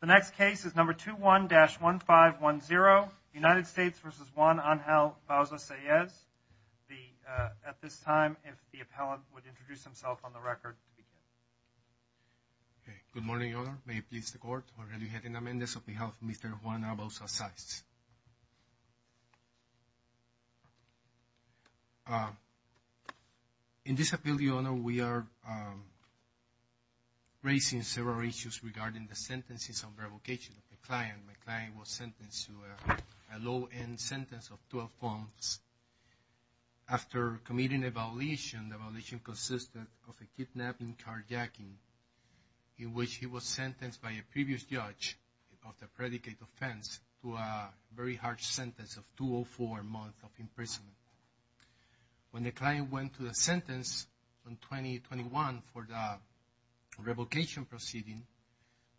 The next case is number 21-1510, United States v. Juan Angel Bauza-Saez. At this time, if the appellant would introduce himself on the record to begin. Good morning, Your Honor. May it please the Court, Jorge Lujan Jimenez on behalf of Mr. Juan Angel Bauza-Saez. In this appeal, Your Honor, we are raising several issues regarding the sentences and revocation of the client. My client was sentenced to a low-end sentence of 12 months. After committing a violation, the violation consisted of a kidnapping carjacking, in which he was sentenced by a previous judge of the predicate offense to a very harsh sentence of 204 months of imprisonment. When the client went to the sentence in 2021 for the revocation proceeding,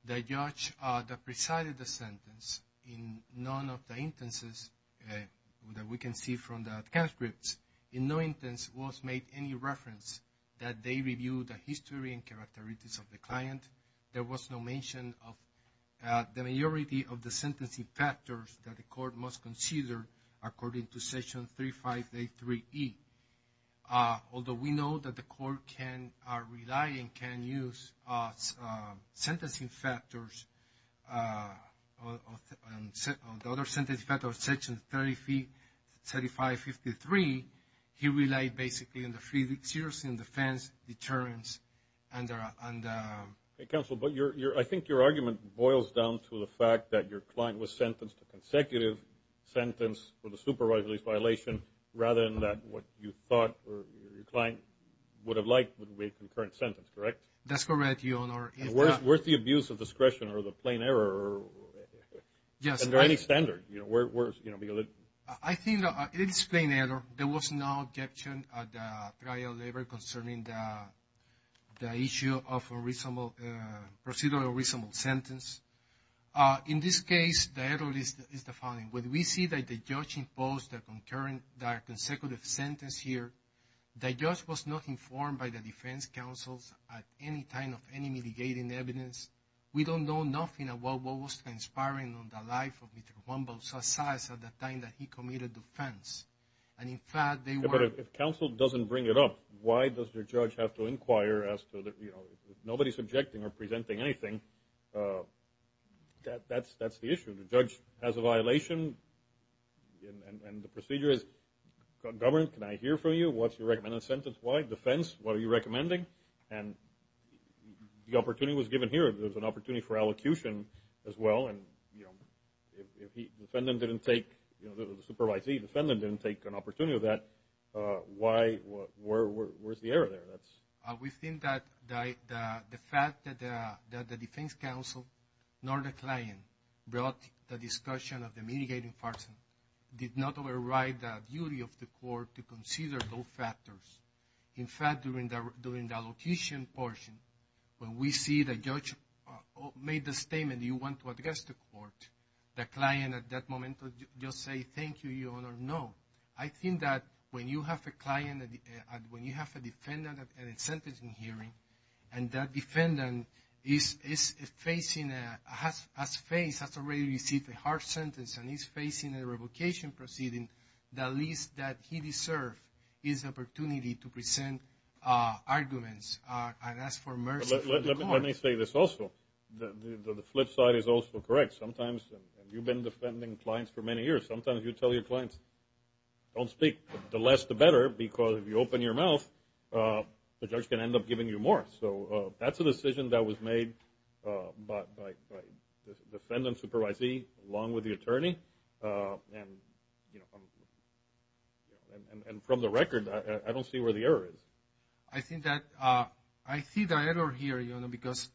the judge that presided the sentence in none of the instances that we can see from the transcripts, in no instance was made any reference that they reviewed the history and characteristics of the client. There was no mention of the majority of the sentencing factors that the Court must consider according to Section 3583E. He relied, basically, on the serious defense deterrence. Counsel, I think your argument boils down to the fact that your client was sentenced to a consecutive sentence with a supervised release violation, rather than what you thought your client would have liked would be a concurrent sentence, correct? That's correct, Your Honor. Where's the abuse of discretion or the plain error? Is there any standard? I think it is plain error. There was no objection at the trial level concerning the issue of procedural reasonable sentence. In this case, the error is the following. When we see that the judge imposed the consecutive sentence here, the judge was not informed by the defense counsels at any time of any mitigating evidence. We don't know nothing about what was transpiring in the life of Mr. Humboldt, such as at the time that he committed the offense. And, in fact, they were… But if counsel doesn't bring it up, why does the judge have to inquire as to, you know, if nobody's objecting or presenting anything, that's the issue. The judge has a violation, and the procedure is, government, can I hear from you? What's your recommended sentence? Why? Defense, what are you recommending? And the opportunity was given here. There's an opportunity for allocution as well. And, you know, if the defendant didn't take, you know, the supervisee, the defendant didn't take an opportunity of that, why? Where's the error there? We think that the fact that the defense counsel nor the client brought the discussion of the mitigating farce did not override the duty of the court to consider those factors. In fact, during the allocation portion, when we see the judge made the statement, do you want to address the court, the client at that moment will just say, thank you, Your Honor, no. I think that when you have a client, when you have a defendant at a sentencing hearing, and that defendant is facing, has faced, has already received a harsh sentence, and he's facing a revocation proceeding, the least that he deserves is the opportunity to present arguments and ask for mercy from the court. Let me say this also. The flip side is also correct. Sometimes you've been defending clients for many years. Sometimes you tell your clients, don't speak. The less, the better, because if you open your mouth, the judge can end up giving you more. So that's a decision that was made by the defendant's supervisee along with the attorney. And from the record, I don't see where the error is. I think that I see the error here, Your Honor, because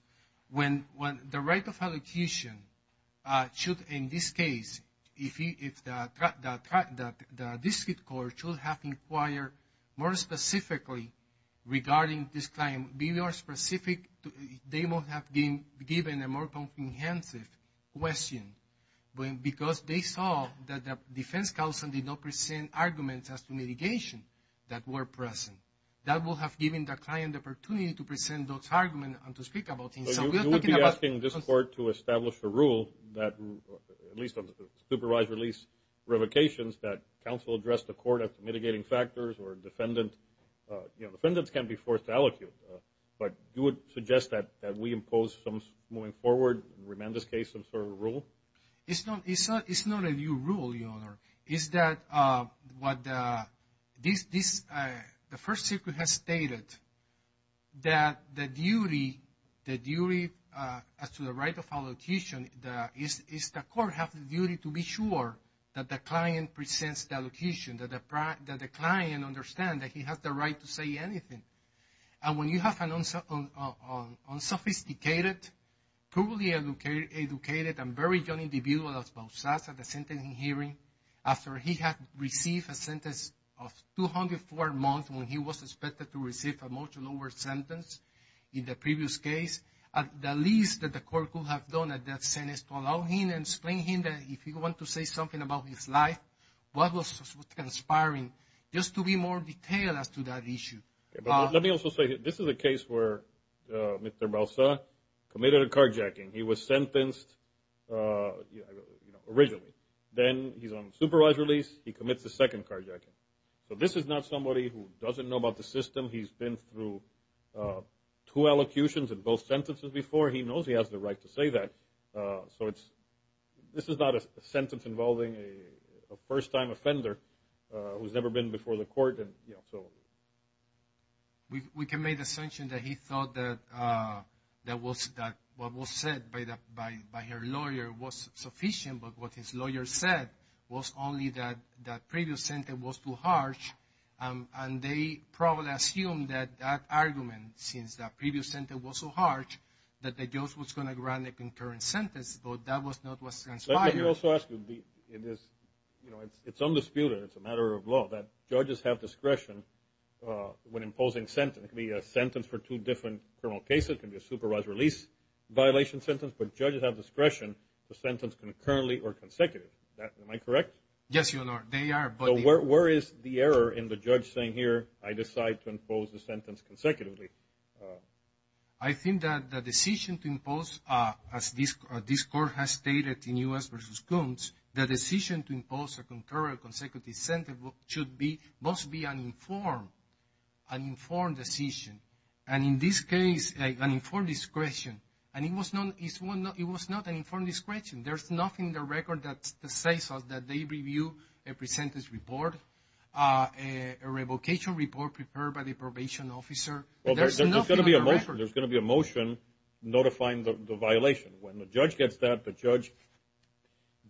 when the right of allocation should, in this case, if the district court should have inquired more specifically regarding this client, be more specific, they would have been given a more comprehensive question, because they saw that the defense counsel did not present arguments as to mitigation that were present. That would have given the client the opportunity to present those arguments and to speak about things. So you would be asking this court to establish a rule that, at least on the supervised release revocations, that counsel address the court as to mitigating factors or defendant. You know, defendants can't be forced to allocate. But you would suggest that we impose some moving forward, in Rimanda's case, some sort of rule? Is that what the First Circuit has stated, that the duty as to the right of allocation, is the court have the duty to be sure that the client presents the allocation, that the client understands that he has the right to say anything. And when you have an unsophisticated, poorly educated, and very young individual as Balsas at the sentencing hearing, after he had received a sentence of 204 months when he was expected to receive a much lower sentence in the previous case, the least that the court could have done at that sentence is to allow him and explain to him that if he wanted to say something about his life, what was transpiring, just to be more detailed as to that issue. Let me also say, this is a case where Mr. Balsas committed a carjacking. He was sentenced originally. Then he's on supervised release. He commits a second carjacking. So this is not somebody who doesn't know about the system. He's been through two allocutions in both sentences before. He knows he has the right to say that. So this is not a sentence involving a first-time offender who's never been before the court. We can make the assumption that he thought that what was said by her lawyer was sufficient, but what his lawyer said was only that that previous sentence was too harsh, and they probably assumed that that argument, since that previous sentence was so harsh, that the judge was going to grant a concurrent sentence, but that was not what transpired. Let me also ask you, it's undisputed, it's a matter of law, that judges have discretion when imposing sentences. It can be a sentence for two different criminal cases. It can be a supervised release violation sentence. But judges have discretion to sentence concurrently or consecutively. Am I correct? Yes, Your Honor, they are. But where is the error in the judge saying, here, I decide to impose the sentence consecutively? I think that the decision to impose, as this court has stated in U.S. v. Coons, the decision to impose a concurrent consecutive sentence must be an informed decision. And in this case, an informed discretion. And it was not an informed discretion. There's nothing in the record that says that they review a presentence report, a revocation report prepared by the probation officer. Well, there's going to be a motion notifying the violation. When the judge gets that, the judge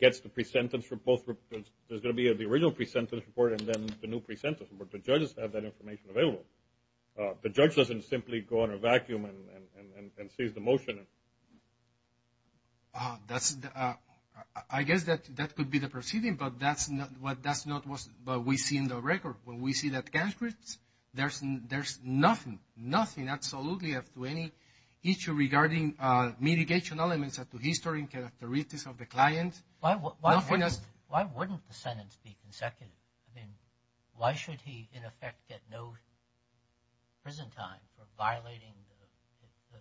gets the presentence report. There's going to be the original presentence report and then the new presentence report. The judges have that information available. The judge doesn't simply go in a vacuum and seize the motion. I guess that could be the proceeding, but that's not what we see in the record. When we see that transcript, there's nothing, nothing, absolutely to any issue regarding mitigation elements of the history and characteristics of the client. Why wouldn't the sentence be consecutive? I mean, why should he, in effect, get no prison time for violating the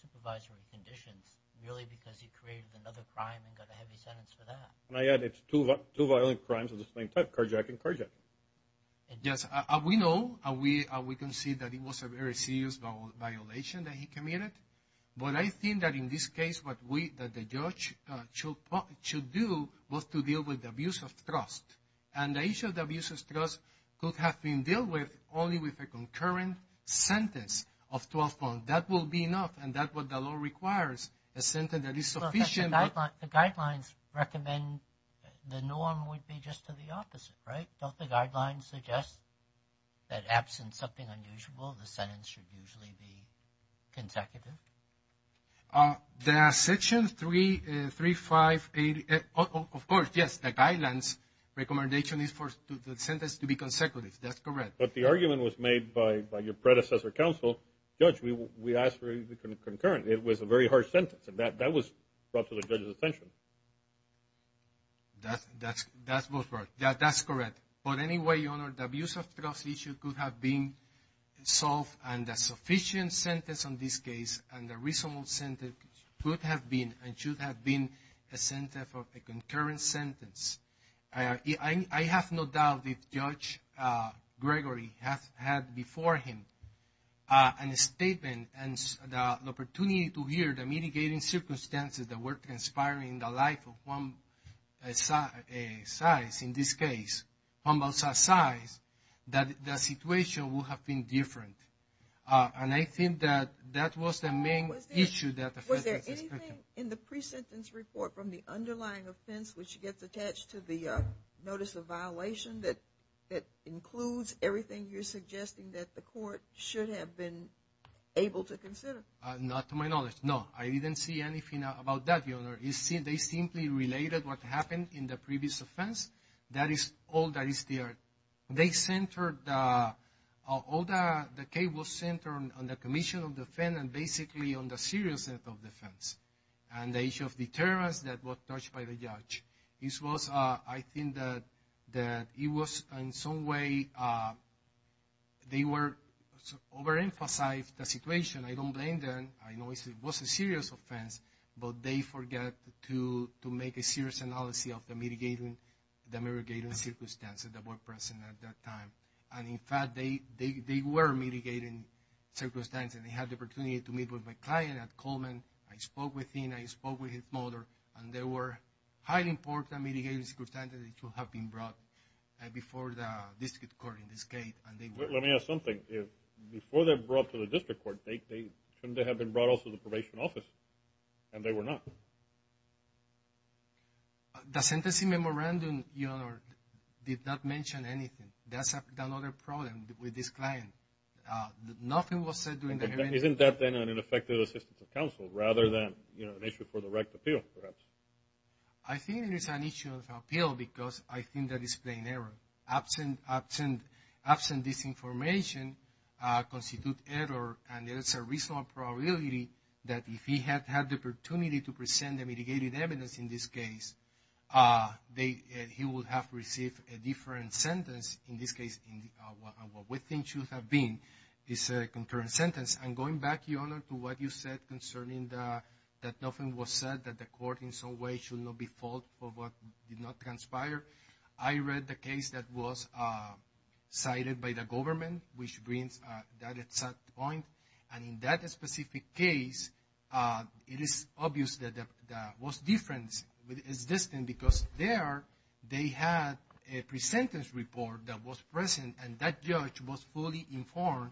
supervisory conditions, merely because he created another crime and got a heavy sentence for that? And I add, it's two violent crimes of the same type, carjacking and carjacking. Yes, we know and we can see that it was a very serious violation that he committed. But I think that in this case, what the judge should do was to deal with the abuse of trust. And the issue of the abuse of trust could have been dealt with only with a concurrent sentence of 12 months. That will be enough, and that's what the law requires, a sentence that is sufficient. The guidelines recommend the norm would be just to the opposite, right? Don't the guidelines suggest that absent something unusual, the sentence should usually be consecutive? There are sections 3, 5, 8. Of course, yes, the guidelines recommendation is for the sentence to be consecutive. That's correct. But the argument was made by your predecessor counsel. Judge, we asked for a concurrent. It was a very harsh sentence, and that was brought to the judge's attention. That's correct. But anyway, Your Honor, the abuse of trust issue could have been solved, and a sufficient sentence on this case and a reasonable sentence could have been and should have been a sentence of a concurrent sentence. I have no doubt if Judge Gregory had before him a statement and the opportunity to hear the mitigating circumstances that were transpiring in the life of Juan Balsas' case, that the situation would have been different. And I think that that was the main issue that affected his judgment. Anything in the pre-sentence report from the underlying offense which gets attached to the notice of violation that includes everything you're suggesting that the court should have been able to consider? Not to my knowledge, no. I didn't see anything about that, Your Honor. They simply related what happened in the previous offense. That is all that is there. The case was centered on the commission of defense and basically on the seriousness of defense and the issue of deterrence that was touched by the judge. I think that it was in some way they overemphasized the situation. I don't blame them. I know it was a serious offense, but they forget to make a serious analysis of the mitigating circumstances that were present at that time. And, in fact, they were mitigating circumstances. They had the opportunity to meet with my client at Coleman. I spoke with him. I spoke with his mother, and there were highly important mitigating circumstances that should have been brought before the district court in this case. Let me ask something. Before they were brought to the district court, shouldn't they have been brought also to the probation office? And they were not. The sentencing memorandum, Your Honor, did not mention anything. That's another problem with this client. Nothing was said during the hearing. Isn't that then an ineffective assistance of counsel rather than an issue for the right to appeal, perhaps? I think it is an issue of appeal because I think that it's plain error. Absent this information constitutes error, and there is a reasonable probability that if he had had the opportunity to present the mitigating evidence in this case, he would have received a different sentence. In this case, what we think should have been is a concurrent sentence. And going back, Your Honor, to what you said concerning that nothing was said, that the court in some way should not be fault for what did not conspire, I read the case that was cited by the government, which brings that exact point. And in that specific case, it is obvious that what's different is this thing, because there they had a pre-sentence report that was present, and that judge was fully informed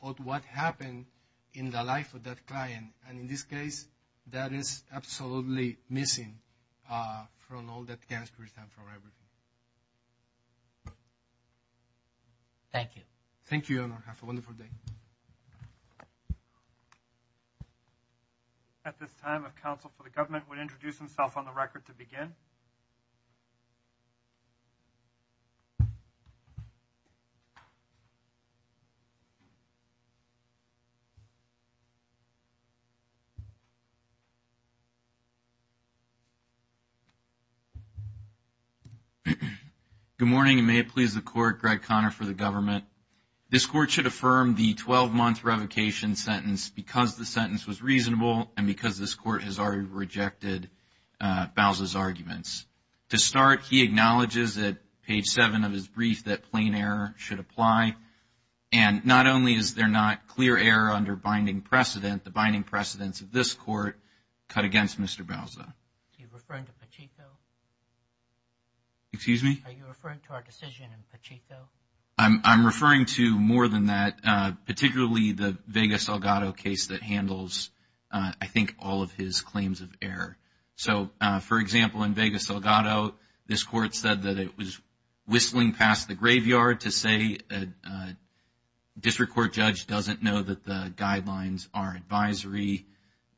of what happened in the life of that client. And in this case, that is absolutely missing from all that Gansberg has done for everything. Thank you. Thank you, Your Honor. Have a wonderful day. At this time, if counsel for the government would introduce himself on the record to begin. Good morning, and may it please the court, Greg Conner for the government. This court should affirm the 12-month revocation sentence because the sentence was reasonable and because this court has already rejected Bowser's arguments. To start, he acknowledges at page 7 of his brief that plain error should apply. And not only is there not clear error under binding precedent, the binding precedents of this court cut against Mr. Bowser. Are you referring to Pacheco? Are you referring to our decision in Pacheco? I'm referring to more than that, particularly the Vegas-Elgato case that handles, I think, all of his claims of error. So, for example, in Vegas-Elgato, this court said that it was whistling past the graveyard or to say a district court judge doesn't know that the guidelines are advisory.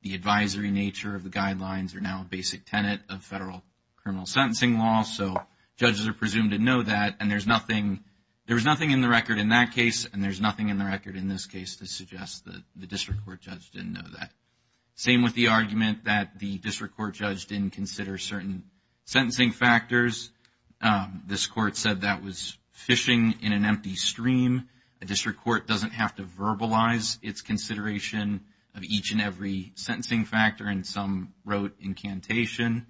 The advisory nature of the guidelines are now a basic tenet of federal criminal sentencing law, so judges are presumed to know that, and there's nothing in the record in that case, and there's nothing in the record in this case to suggest that the district court judge didn't know that. Same with the argument that the district court judge didn't consider certain sentencing factors. This court said that was fishing in an empty stream. A district court doesn't have to verbalize its consideration of each and every sentencing factor, and some wrote incantation.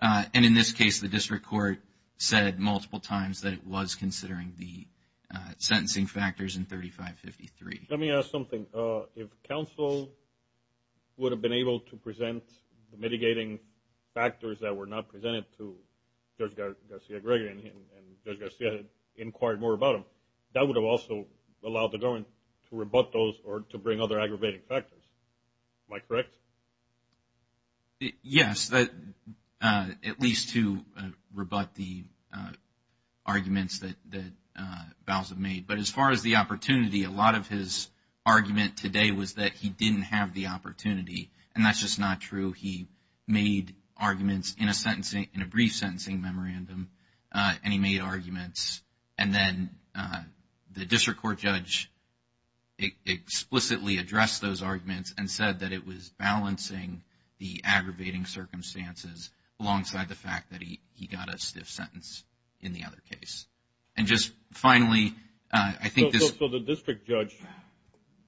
And in this case, the district court said multiple times that it was considering the sentencing factors in 3553. Let me ask something. If counsel would have been able to present mitigating factors that were not presented to Judge Garcia-Gregg and Judge Garcia had inquired more about them, that would have also allowed the government to rebut those or to bring other aggravating factors. Am I correct? Yes, at least to rebut the arguments that Bowser made, but as far as the opportunity, a lot of his argument today was that he didn't have the opportunity, and that's just not true. He made arguments in a brief sentencing memorandum, and he made arguments, and then the district court judge explicitly addressed those arguments and said that it was balancing the aggravating circumstances alongside the fact that he got a stiff sentence in the other case. And just finally, I think this... So the district judge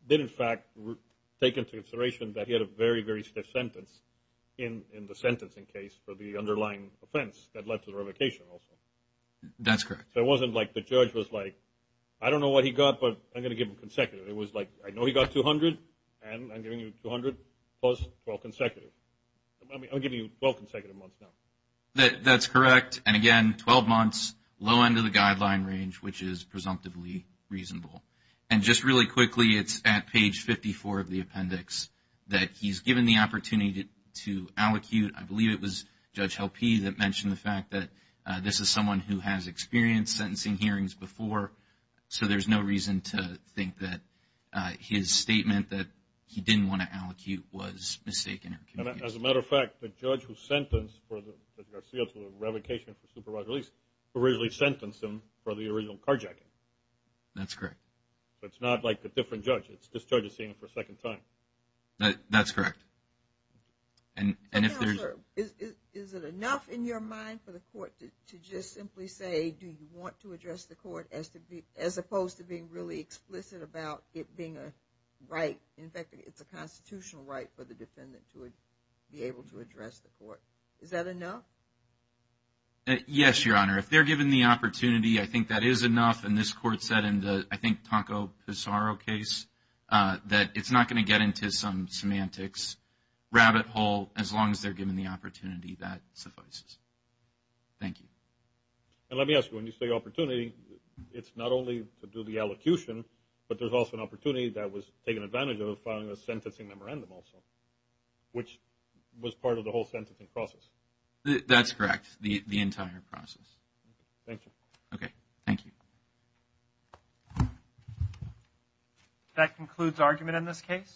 did in fact take into consideration that he had a very, very stiff sentence in the sentencing case for the underlying offense that led to the revocation also. That's correct. So it wasn't like the judge was like, I don't know what he got, but I'm going to give him consecutive. It was like, I know he got 200, and I'm giving you 200 plus 12 consecutive. I'll give you 12 consecutive months now. That's correct, and again, 12 months, low end of the guideline range, which is presumptively reasonable. And just really quickly, it's at page 54 of the appendix that he's given the opportunity to allocute. I believe it was Judge Helpe that mentioned the fact that this is someone who has experienced sentencing hearings before, so there's no reason to think that his statement that he didn't want to allocate was mistaken. As a matter of fact, the judge who sentenced Judge Garcia to a revocation for supervised release originally sentenced him for the original carjacking. That's correct. So it's not like a different judge. This judge is seeing him for a second time. That's correct. Is it enough in your mind for the court to just simply say, do you want to address the court, as opposed to being really explicit about it being a right? In fact, it's a constitutional right for the defendant to be able to address the court. Is that enough? Yes, Your Honor. If they're given the opportunity, I think that is enough. And this court said in the, I think, Tonko Pissarro case, that it's not going to get into some semantics rabbit hole as long as they're given the opportunity that suffices. Thank you. And let me ask you, when you say opportunity, it's not only to do the allocution, but there's also an opportunity that was taken advantage of in filing a sentencing memorandum also, which was part of the whole sentencing process. That's correct, the entire process. Thank you.